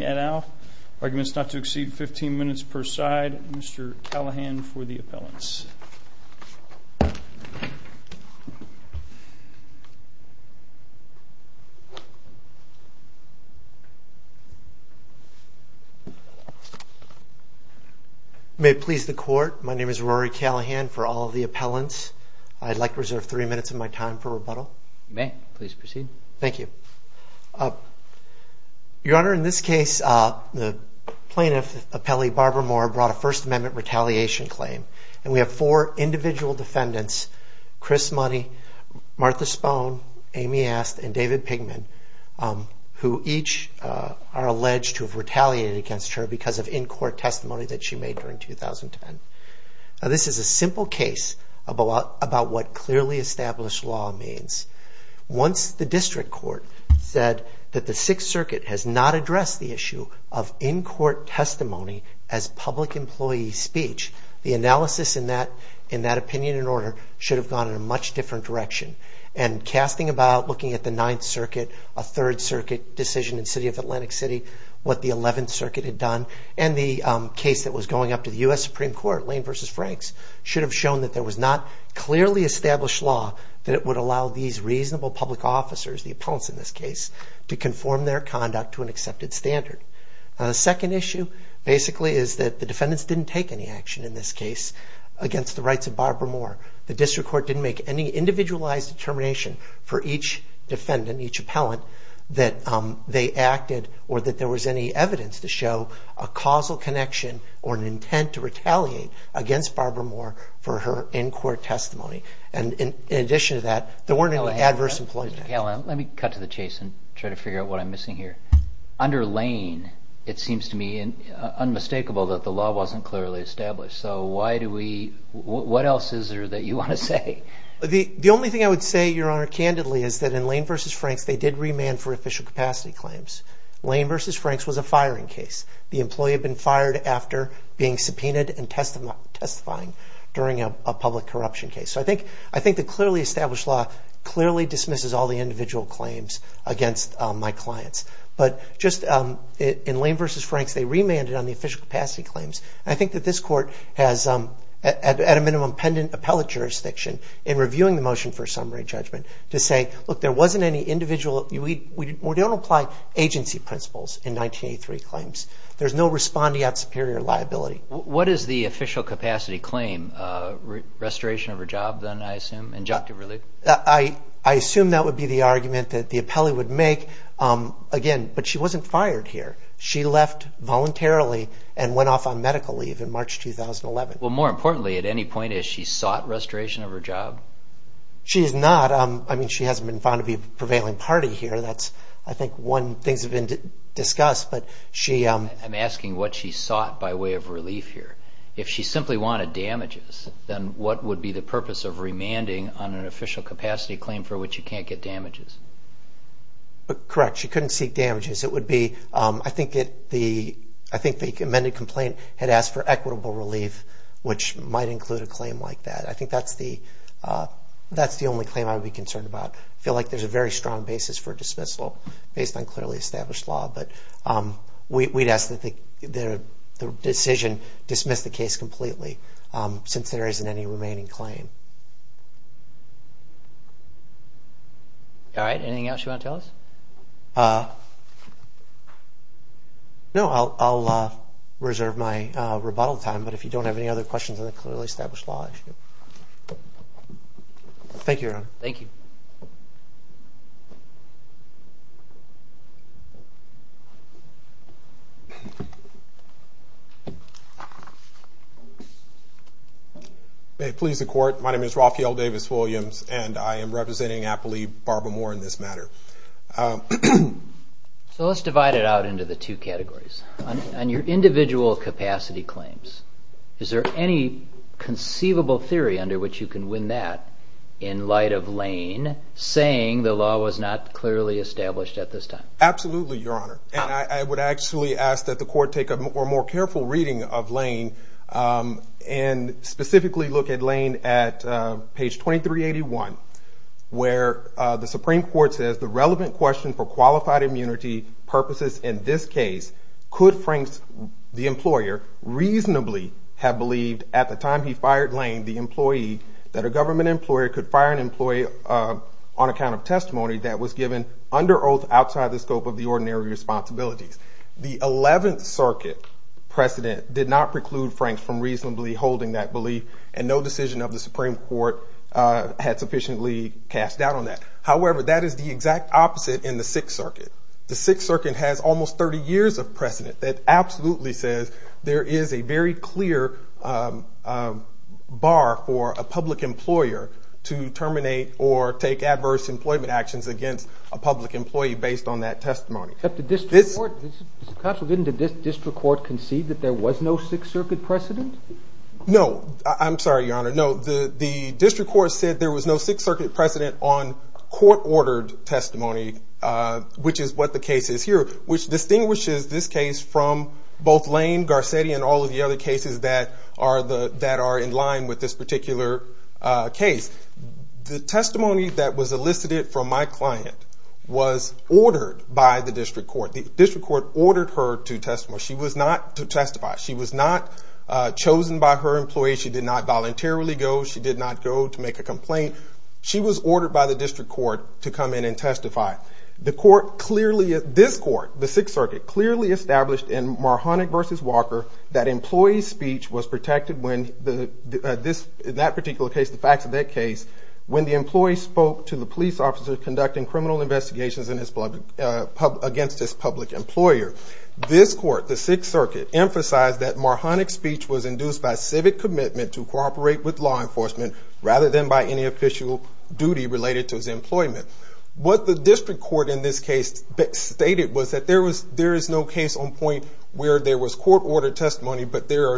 et al. Arguments not to exceed 15 minutes per side. Mr. Callaghan for the appellants. May it please the court, my name is Rory Callaghan for all of the appellants. I'd like to reserve three minutes of my time for rebuttal. You may, please proceed. Thank you. Your Honor, in this case, the plaintiff, appellee Barbara Moore, brought a First Amendment retaliation claim. And we have four individual defendants, Chris Money, Martha Spohn, Amy Ast, and David Pigman, who each are alleged to have retaliated against her because of in-court testimony that she made during 2010. Now this is a simple case about what clearly established law means. Once the district court said that the Sixth Circuit has not addressed the issue of in-court testimony as public employee speech, the analysis in that opinion and order should have gone in a much different direction. And casting about looking at the Ninth Circuit, a Third Circuit decision in the City of Atlantic City, what the Eleventh Circuit had done, and the case that was going up to the U.S. Supreme Court, Lane v. Franks, should have shown that there was not clearly established law that would allow these reasonable public officers, the Second issue, basically, is that the defendants didn't take any action in this case against the rights of Barbara Moore. The district court didn't make any individualized determination for each defendant, each appellant, that they acted or that there was any evidence to show a causal connection or an intent to retaliate against Barbara Moore for her in-court testimony. And in addition to that, there weren't any adverse employees. Mr. Callahan, let me cut to the chase and try to figure out what I'm missing here. Under Lane, it seems to me unmistakable that the law wasn't clearly established. So why do we, what else is there that you want to say? The only thing I would say, Your Honor, candidly, is that in Lane v. Franks, they did remand for official capacity claims. Lane v. Franks was a firing case. The individual claims against my clients. But just in Lane v. Franks, they remanded on the official capacity claims. And I think that this court has, at a minimum, pendant appellate jurisdiction in reviewing the motion for summary judgment to say, look, there wasn't any individual, we don't apply agency principles in 1983 claims. There's no respondeat superior liability. What is the official capacity claim? Restoration of her job, then, I assume, injunctive relief? I assume that would be the argument that the appellate would make. Again, but she wasn't fired here. She left voluntarily and went off on medical leave in March 2011. Well, more importantly, at any point, has she sought restoration of her job? She has not. I mean, she hasn't been found to be a prevailing party here. That's, I think, one, things have been discussed. I'm asking what she sought by way of relief here. If she simply wanted damages, then what would be the purpose of remanding on an official capacity claim for which you can't get damages? Correct. She couldn't seek damages. It would be, I think, the amended complaint had asked for equitable relief, which might include a claim like that. I think that's the only claim I would be concerned about. I feel like there's a very strong basis for dismissal based on clearly established law. But we'd ask that the decision dismiss the case completely since there isn't any remaining claim. All right. Anything else you want to tell us? No, I'll reserve my rebuttal time. But if you don't have any other questions on the clearly established law, I should. Thank you, Your Honor. Thank you. May it please the Court, my name is Raphael Davis-Williams, and I am representing Appley Barber Moore in this matter. So let's divide it out into the two categories. On your individual capacity claims, is there any conceivable theory under which you can win that in light of Lane saying the law would be effective? Absolutely, Your Honor. And I would actually ask that the Court take a more careful reading of Lane, and specifically look at Lane at page 2381, where the Supreme Court says, the relevant question for qualified immunity purposes in this case, could Frank, the employer, reasonably have believed at the time he fired Lane, the employee, that a government employer could fire an employee on account of testimony that was given under oath outside the scope of the ordinary responsibilities. The Eleventh Circuit precedent did not preclude Frank from reasonably holding that belief, and no decision of the Supreme Court had sufficiently cast doubt on that. However, that is the exact opposite in the Sixth Circuit. The Sixth Circuit has almost 30 years of precedent that absolutely says there is a very clear bar for a public employer to terminate or take adverse employment actions against a public employee based on that testimony. But the District Court, didn't the District Court concede that there was no Sixth Circuit precedent? No, I'm sorry, Your Honor. No, the District Court said there was no Sixth Circuit precedent on court-ordered testimony, which is what the case is here, which distinguishes this case from both Lane, Garcetti, and all of the other cases that are in line with this particular case. The testimony that was elicited from my client was ordered by the District Court. The District Court ordered her to testify. She was not chosen by her employees. She did not voluntarily go. She did not go to make a complaint. She was ordered by the District Court to come in and testify. This Court, the Sixth Circuit, clearly established in Marhoneck v. Walker that employee speech was protected in that particular case, the facts of that case, when the employee spoke to the police officer conducting criminal investigations against his public employer. This Court, the Sixth Circuit, emphasized that Marhoneck's speech was induced by civic commitment to cooperate with law enforcement rather than by any official duty related to his employment. What the District Court in this case stated was that there is no case on point where there was court-ordered testimony, but there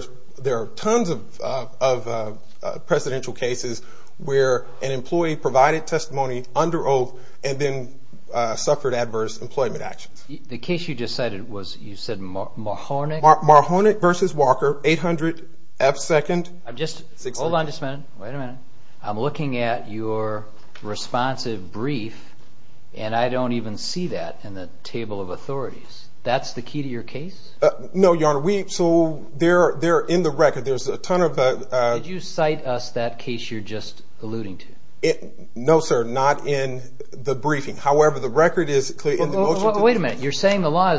are tons of presidential cases where an employee provided testimony under oath and then suffered adverse employment actions. The case you just cited, you said Marhoneck? Marhoneck v. Walker, 800 F. Second. Hold on just a minute. Wait a minute. I'm looking at your responsive brief, and I don't even see that in the table of authorities. That's the key to your case? No, Your Honor. They're in the record. There's a ton of... Did you cite us that case you're just alluding to? No, sir. Not in the briefing. However, the record is clear in the motion. Wait a minute. You're saying the law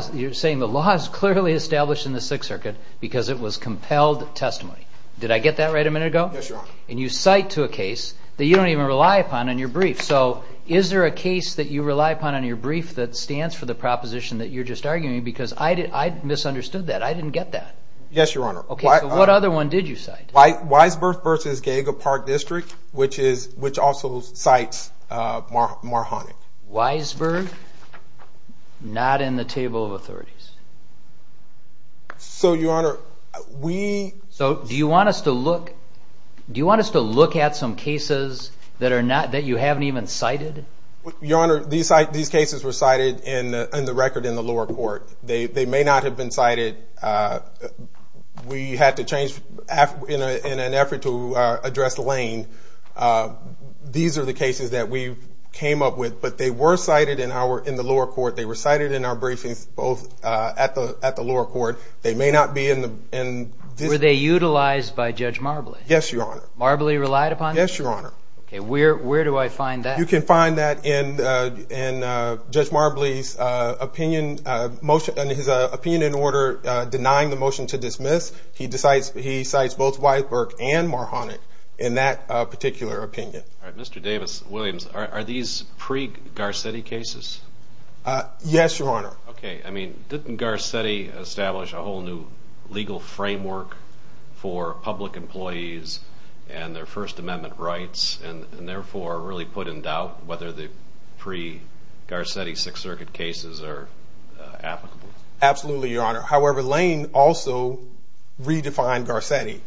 is clearly established in the Sixth Circuit because it was compelled testimony. Did I get that right a minute ago? Yes, Your Honor. And you cite to a case that you don't even rely upon in your brief. So is there a case that you rely upon in your brief that stands for the proposition that you're just arguing? Because I misunderstood that. I didn't get that. Yes, Your Honor. Okay. So what other one did you cite? Weisberg v. Geaga Park District, which also cites Marhoneck. Weisberg? Not in the table of authorities. So, Your Honor, we... So do you want us to look at some cases that you haven't even cited? Your Honor, these cases were cited in the record in the lower court. They may not have been cited. We had to change in an effort to address Lane. These are the cases that we came up with, but they were cited in the lower court. They were cited in our briefings, both at the lower court. They may not be in the... Were they utilized by Judge Marbley? Yes, Your Honor. Marbley relied upon them? Yes, Your Honor. Okay. Where do I find that? You can find that in Judge Marbley's opinion motion and his opinion in order denying the motion to dismiss. He cites both Weisberg and Marhoneck in that particular opinion. All right. Mr. Davis, Williams, are these pre-Garcetti cases? Yes, Your Honor. Okay. I mean, didn't Garcetti establish a whole new legal framework for public employees and their First Amendment rights and therefore really put in doubt whether the pre-Garcetti Sixth Circuit cases are applicable? Absolutely, Your Honor. However, Lane also redefined Garcetti.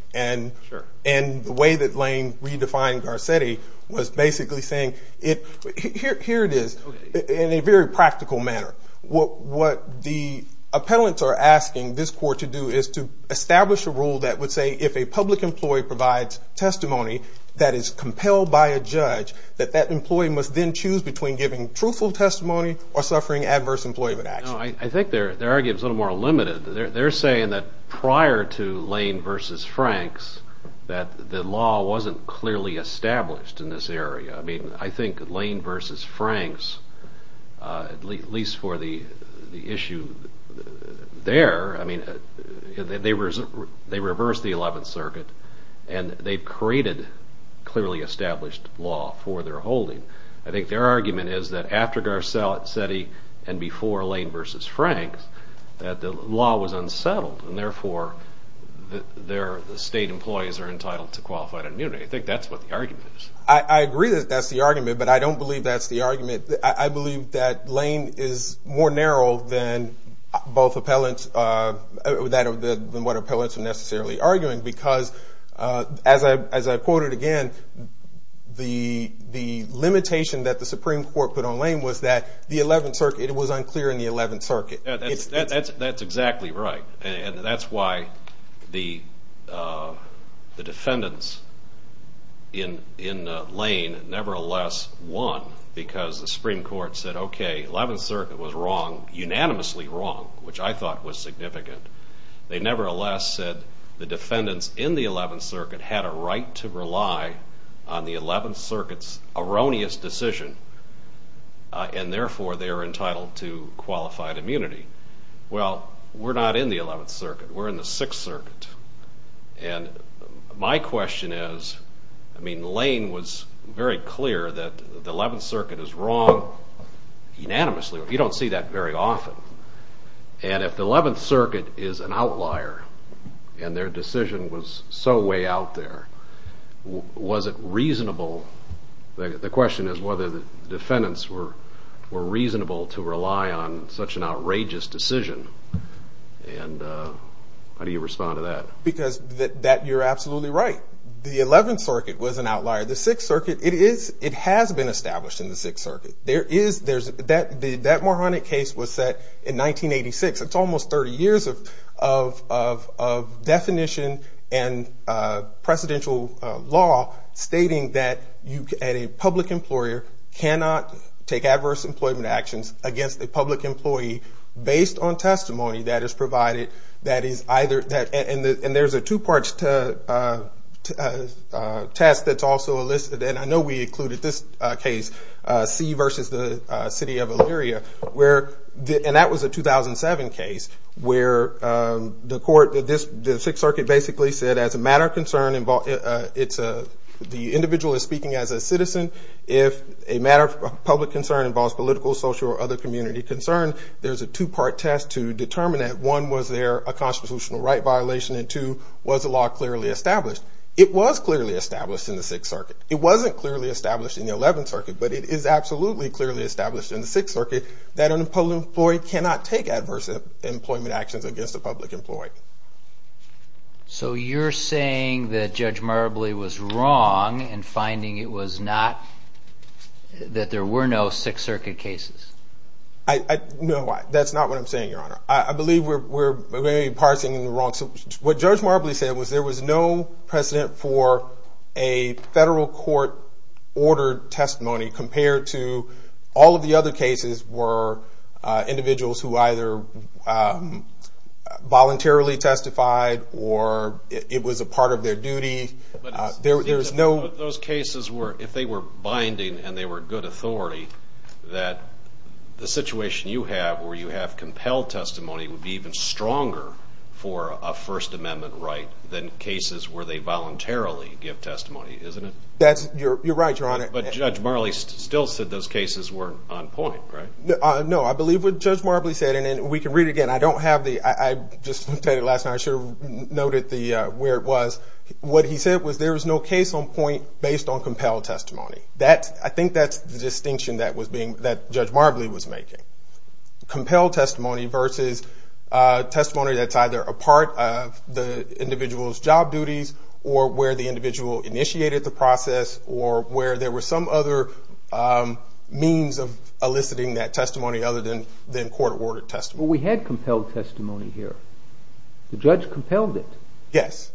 Sure. And the way that Lane redefined Garcetti was basically saying, here it is, in a very practical manner. What the appellants are asking this court to do is to establish a rule that would say if a public employee provides testimony that is compelled by a judge, that that employee must then choose between giving truthful testimony or suffering adverse employment action. I think their argument is a little more limited. They're saying that prior to Lane v. Franks that the law wasn't clearly established in this area. I mean, I think Lane v. Franks, at least for the issue there, I mean, they reversed the Eleventh Circuit and they've created clearly established law for their holding. I think their argument is that after Garcetti and before Lane v. Franks that the law was unsettled and therefore the state employees are entitled to qualified immunity. I think that's what the argument is. I agree that that's the argument, but I don't believe that's the argument. I believe that Lane is more narrow than both appellants, than what appellants are necessarily arguing because as I quoted again, the limitation that the Supreme Court put on Lane was that the Eleventh Circuit, it was unclear in the Eleventh Circuit. That's exactly right. That's why the defendants in Lane nevertheless won because the Supreme Court said, okay, Eleventh Circuit was wrong, unanimously wrong, which I thought was significant. They nevertheless said the defendants in the Eleventh Circuit had a right to rely on the Eleventh Circuit's erroneous decision and therefore they're entitled to qualified immunity. Well, we're not in the Eleventh Circuit. We're in the Sixth Circuit. And my question is, I mean, Lane was very clear that the Eleventh Circuit is wrong unanimously. You don't see that very often. And if the Eleventh Circuit is an outlier and their decision was so way out there, was it reasonable? The question is whether the defendants were reasonable to rely on such an outrageous decision. And how do you respond to that? Because you're absolutely right. The Eleventh Circuit was an outlier. The Sixth Circuit, it has been established in the Sixth Circuit. That moronic case was set in 1986. It's almost 30 years of definition and precedential law stating that a public employer cannot take adverse employment actions against a public employee based on testimony that is provided. And there's a two-part test that's also listed. And I know we included this case, C versus the City of Elyria. And that was a 2007 case where the Sixth Circuit basically said as a matter of concern, the individual is speaking as a citizen. If a matter of public concern involves political, social, or other community concern, there's a two-part test to determine that, one, was there a constitutional right violation, and two, was the law clearly established? It was clearly established in the Sixth Circuit. It wasn't clearly established in the Eleventh Circuit, but it is absolutely clearly established in the Sixth Circuit that an employee cannot take adverse employment actions against a public employee. So you're saying that Judge Marbley was wrong in finding it was not, that there were no Sixth Circuit cases? No, that's not what I'm saying, Your Honor. I believe we're parsing in the wrong. What Judge Marbley said was there was no precedent for a federal court-ordered testimony compared to all of the other cases were individuals who either voluntarily testified or it was a part of their duty. But if those cases were, if they were binding and they were good authority, that the situation you have where you have compelled testimony would be even stronger for a First Amendment right than cases where they voluntarily give testimony, isn't it? That's, you're right, Your Honor. But Judge Marbley still said those cases weren't on point, right? No, I believe what Judge Marbley said, and we can read it again. I don't have the, I just looked at it last night. I should have noted where it was. What he said was there was no case on point based on compelled testimony. That, I think that's the distinction that was being, that Judge Marbley was making. Compelled testimony versus testimony that's either a part of the individual's job duties or where the individual initiated the process or where there were some other means of eliciting that testimony other than court-ordered testimony. Well, we had compelled testimony here. The judge compelled it. Yes.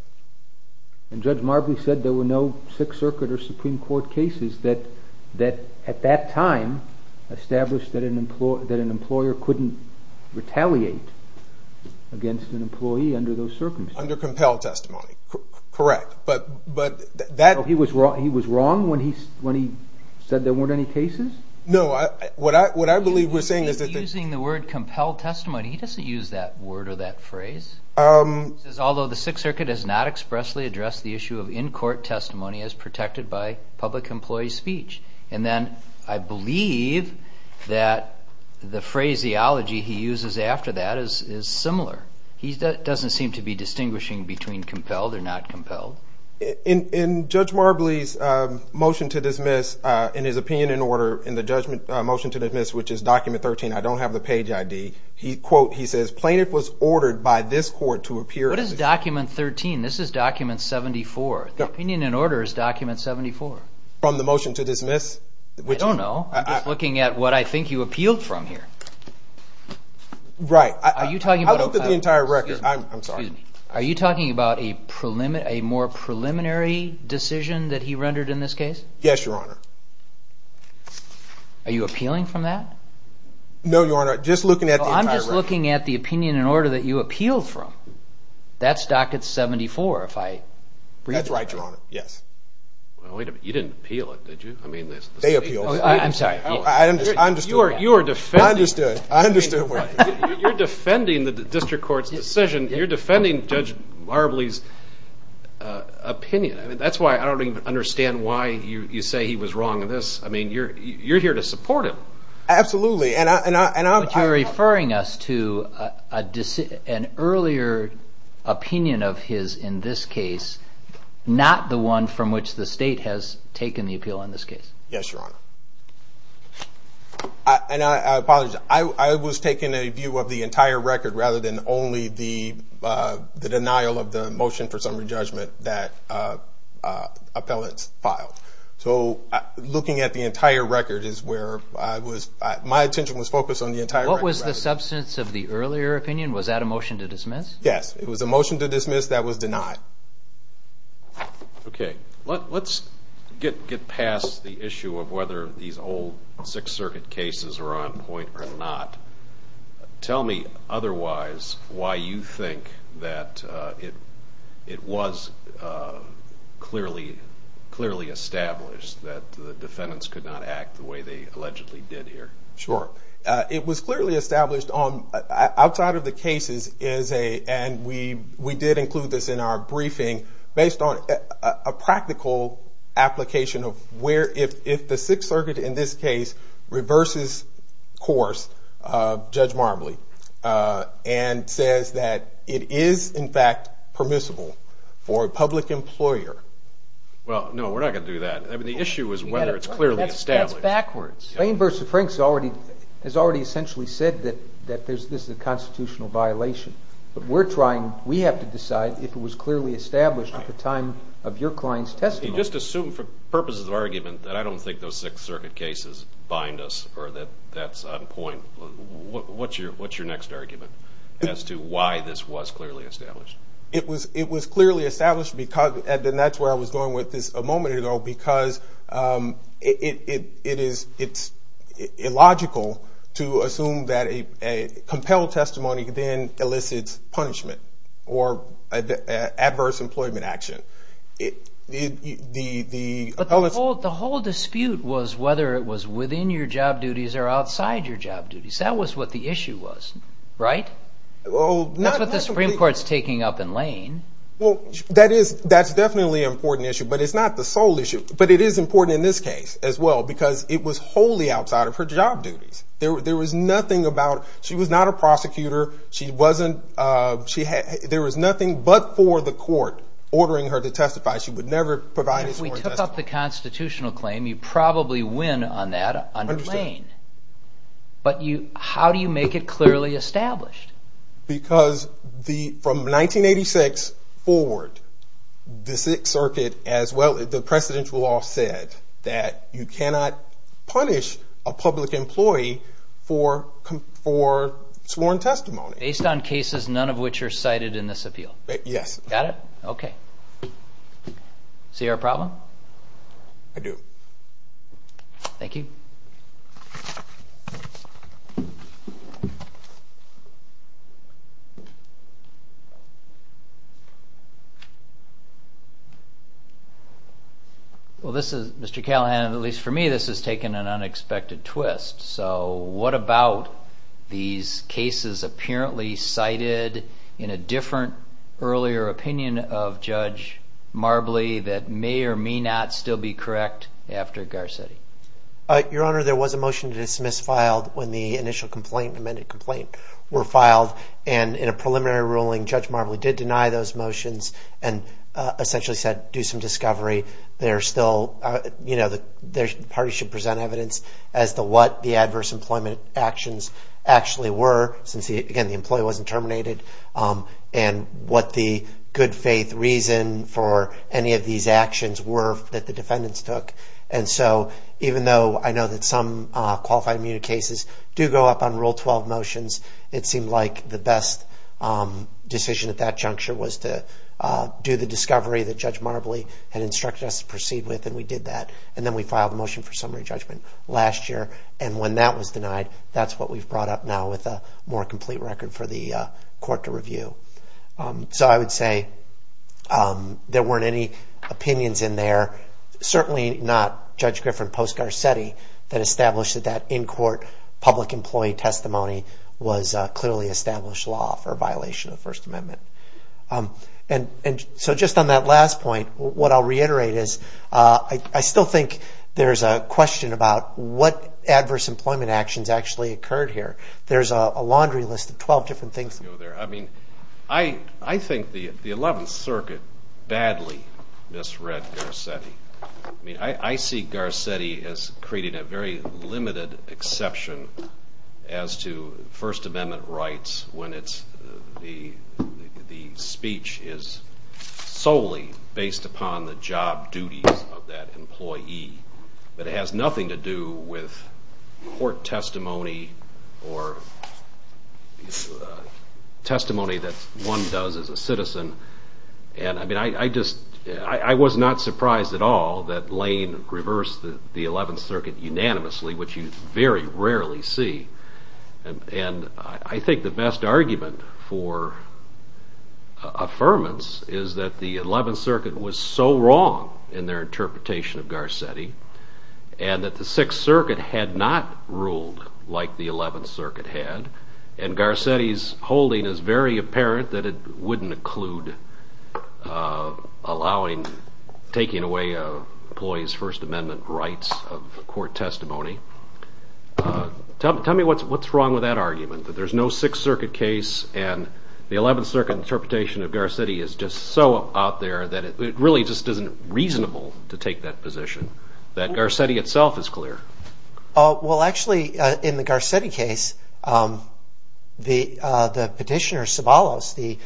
And Judge Marbley said there were no Sixth Circuit or Supreme Court cases that, at that time, established that an employer couldn't retaliate against an employee under those circumstances. Under compelled testimony. Correct. But that... He was wrong when he said there weren't any cases? No. What I believe we're saying is that... He's using the word compelled testimony. He doesn't use that word or that phrase. He says, although the Sixth Circuit has not expressly addressed the issue of in-court testimony as protected by public employee speech. And then I believe that the phraseology he uses after that is similar. He doesn't seem to be distinguishing between compelled or not compelled. In Judge Marbley's motion to dismiss, in his opinion in order, in the motion to dismiss, which is document 13, I don't have the page ID, he says, Plaintiff was ordered by this court to appear... What is document 13? This is document 74. The opinion in order is document 74. From the motion to dismiss? I don't know. I'm just looking at what I think you appealed from here. Right. Are you talking about... I looked at the entire record. I'm sorry. Are you talking about a more preliminary decision that he rendered in this case? Yes, Your Honor. Are you appealing from that? No, Your Honor. Just looking at the entire record. I'm just looking at the opinion in order that you appealed from. That's document 74. That's right, Your Honor. Yes. Wait a minute. You didn't appeal it, did you? They appealed. I'm sorry. I understood. You are defending... I understood. You're defending the district court's decision. You're defending Judge Marbley's opinion. That's why I don't even understand why you say he was wrong in this. You're here to support him. Absolutely. You're referring us to an earlier opinion of his in this case, not the one from which the state has taken the appeal in this case. Yes, Your Honor. I apologize. I was taking a view of the entire record rather than only the denial of the motion for summary judgment that appellants filed. Looking at the entire record is where my attention was focused on the entire record rather than... What was the substance of the earlier opinion? Was that a motion to dismiss? Yes. It was a motion to dismiss that was denied. Okay. Let's get past the issue of whether these old Sixth Circuit cases are on point or not. Tell me otherwise why you think that it was clearly established that the defendants could not act the way they allegedly did here. Sure. It was clearly established outside of the cases, and we did include this in our briefing, based on a practical application of where if the Sixth Circuit in this case reverses course, Judge Marbley, and says that it is, in fact, permissible for a public employer. Well, no, we're not going to do that. I mean, the issue is whether it's clearly established. That's backwards. Wayne v. Frank has already essentially said that this is a constitutional violation, but we have to decide if it was clearly established at the time of your client's testimony. Just assume for purposes of argument that I don't think those Sixth Circuit cases bind us or that that's on point. What's your next argument as to why this was clearly established? It was clearly established, and that's where I was going with this a moment ago, because it's illogical to assume that a compelled testimony then elicits punishment or adverse employment action. But the whole dispute was whether it was within your job duties or outside your job duties. That was what the issue was, right? That's what the Supreme Court's taking up in Lane. That's definitely an important issue, but it's not the sole issue. But it is important in this case as well, because it was wholly outside of her job duties. There was nothing about it. She was not a prosecutor. There was nothing but for the court ordering her to testify. She would never provide a sworn testimony. If we took up the constitutional claim, you'd probably win on that under Lane. But how do you make it clearly established? Because from 1986 forward, the Sixth Circuit, as well as the precedential law, said that you cannot punish a public employee for sworn testimony. Based on cases, none of which are cited in this appeal? Yes. Got it? Okay. See our problem? I do. Thank you. Mr. Callahan, at least for me, this has taken an unexpected twist. So what about these cases apparently cited in a different earlier opinion of Judge Marbley that may or may not still be correct after Garcetti? Your Honor, there was a motion to dismiss filed when the initial complaint, the amended complaint, were filed. In a preliminary ruling, Judge Marbley did deny those motions and essentially said do some discovery. The parties should present evidence as to what the adverse employment actions actually were, since, again, the employee wasn't terminated, and what the good faith reason for any of these actions were that the defendants took. Even though I know that some qualified immunity cases do go up on Rule 12 motions, it seemed like the best decision at that juncture was to do the discovery that Judge Marbley had instructed us to proceed with, and we did that. Then we filed the motion for summary judgment last year, and when that was denied, that's what we've brought up now with a more complete record for the court to review. So I would say there weren't any opinions in there. Certainly not Judge Griffin post-Garcetti that established that that in-court public employee testimony was clearly established law for violation of the First Amendment. So just on that last point, what I'll reiterate is I still think there's a question about what adverse employment actions actually occurred here. There's a laundry list of 12 different things. I think the 11th Circuit badly misread Garcetti. I see Garcetti as creating a very limited exception as to First Amendment rights when the speech is solely based upon the job duties of that employee, but it has nothing to do with court testimony or testimony that one does as a citizen. I was not surprised at all that Lane reversed the 11th Circuit unanimously, which you very rarely see. I think the best argument for affirmance is that the 11th Circuit was so wrong in their interpretation of Garcetti, and that the 6th Circuit had not ruled like the 11th Circuit had, and Garcetti's holding is very apparent that it wouldn't include taking away an employee's First Amendment rights of court testimony. Tell me what's wrong with that argument, that there's no 6th Circuit case and the 11th Circuit interpretation of Garcetti is just so out there that it really just isn't reasonable to take that position, that Garcetti itself is clear. Well, actually, in the Garcetti case, the petitioner, Ceballos, the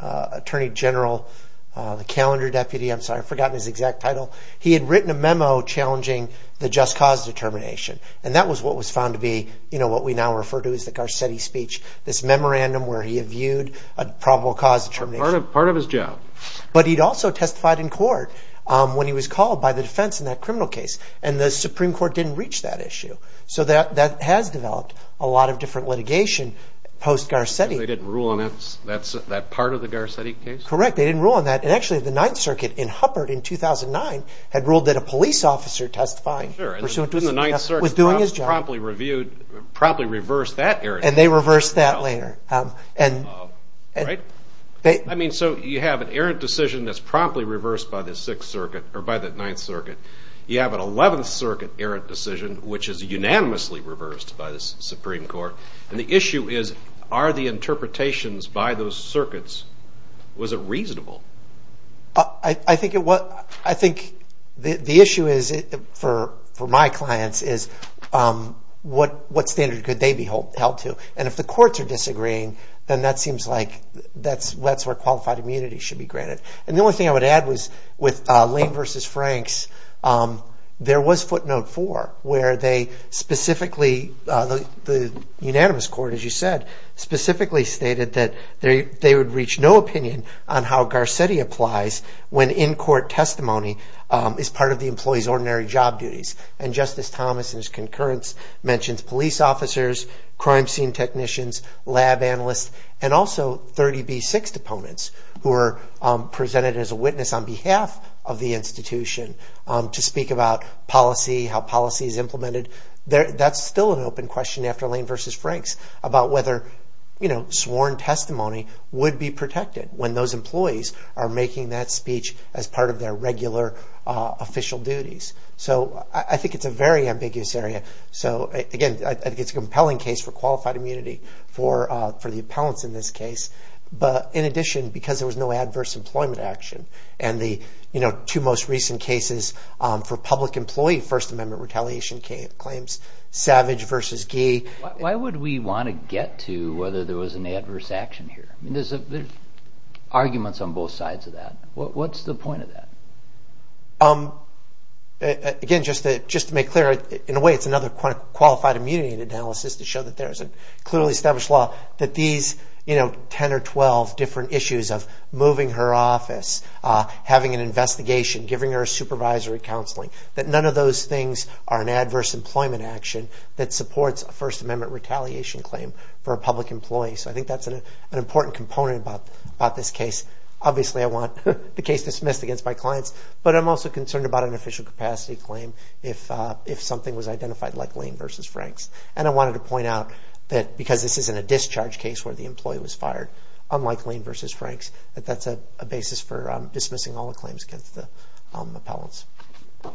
attorney general, the calendar deputy, I've forgotten his exact title, he had written a memo challenging the just cause determination, and that was what was found to be what we now refer to as the Garcetti speech, this memorandum where he had viewed a probable cause determination. Part of his job. But he'd also testified in court when he was called by the defense in that criminal case, and the Supreme Court didn't reach that issue. So that has developed a lot of different litigation post-Garcetti. They didn't rule on that part of the Garcetti case? Correct, they didn't rule on that. And actually, the 9th Circuit in Huppert in 2009 had ruled that a police officer testifying pursuant to the 9th Circuit promptly reversed that errant decision. And they reversed that later. So you have an errant decision that's promptly reversed by the 9th Circuit, you have an 11th Circuit errant decision which is unanimously reversed by the Supreme Court, and the issue is are the interpretations by those circuits, was it reasonable? I think the issue is, for my clients, is what standard could they be held to? And if the courts are disagreeing, then that seems like that's where qualified immunity should be granted. And the only thing I would add was with Lane v. Franks, there was footnote 4, where they specifically, the unanimous court, as you said, specifically stated that they would reach no opinion on how Garcetti applies when in-court testimony is part of the employee's ordinary job duties. And Justice Thomas, in his concurrence, mentions police officers, crime scene technicians, lab analysts, and also 30B6 opponents who are presented as a witness on behalf of the institution to speak about policy, how policy is implemented. That's still an open question after Lane v. Franks about whether sworn testimony would be protected when those employees are making that speech as part of their regular official duties. So I think it's a very ambiguous area. So again, I think it's a compelling case for qualified immunity for the appellants in this case. But in addition, because there was no adverse employment action, and the two most recent cases for public employee First Amendment retaliation claims, Savage v. Gee. Why would we want to get to whether there was an adverse action here? There's arguments on both sides of that. What's the point of that? Again, just to make clear, in a way, it's another qualified immunity analysis to show that there is a clearly established law that these 10 or 12 different issues of moving her office, having an investigation, giving her supervisory counseling, that none of those things are an adverse employment action that supports a First Amendment retaliation claim for a public employee. So I think that's an important component about this case. Obviously, I want the case dismissed against my clients, but I'm also concerned about an official capacity claim if something was identified like Lane v. Franks. And I wanted to point out that because this isn't a discharge case where the employee was fired, unlike Lane v. Franks, that that's a basis for dismissing all the claims against the appellants.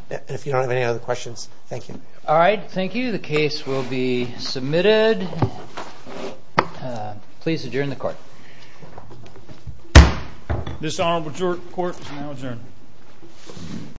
And if you don't have any other questions, thank you. All right, thank you. The case will be submitted. Please adjourn the court. This honorable court is now adjourned.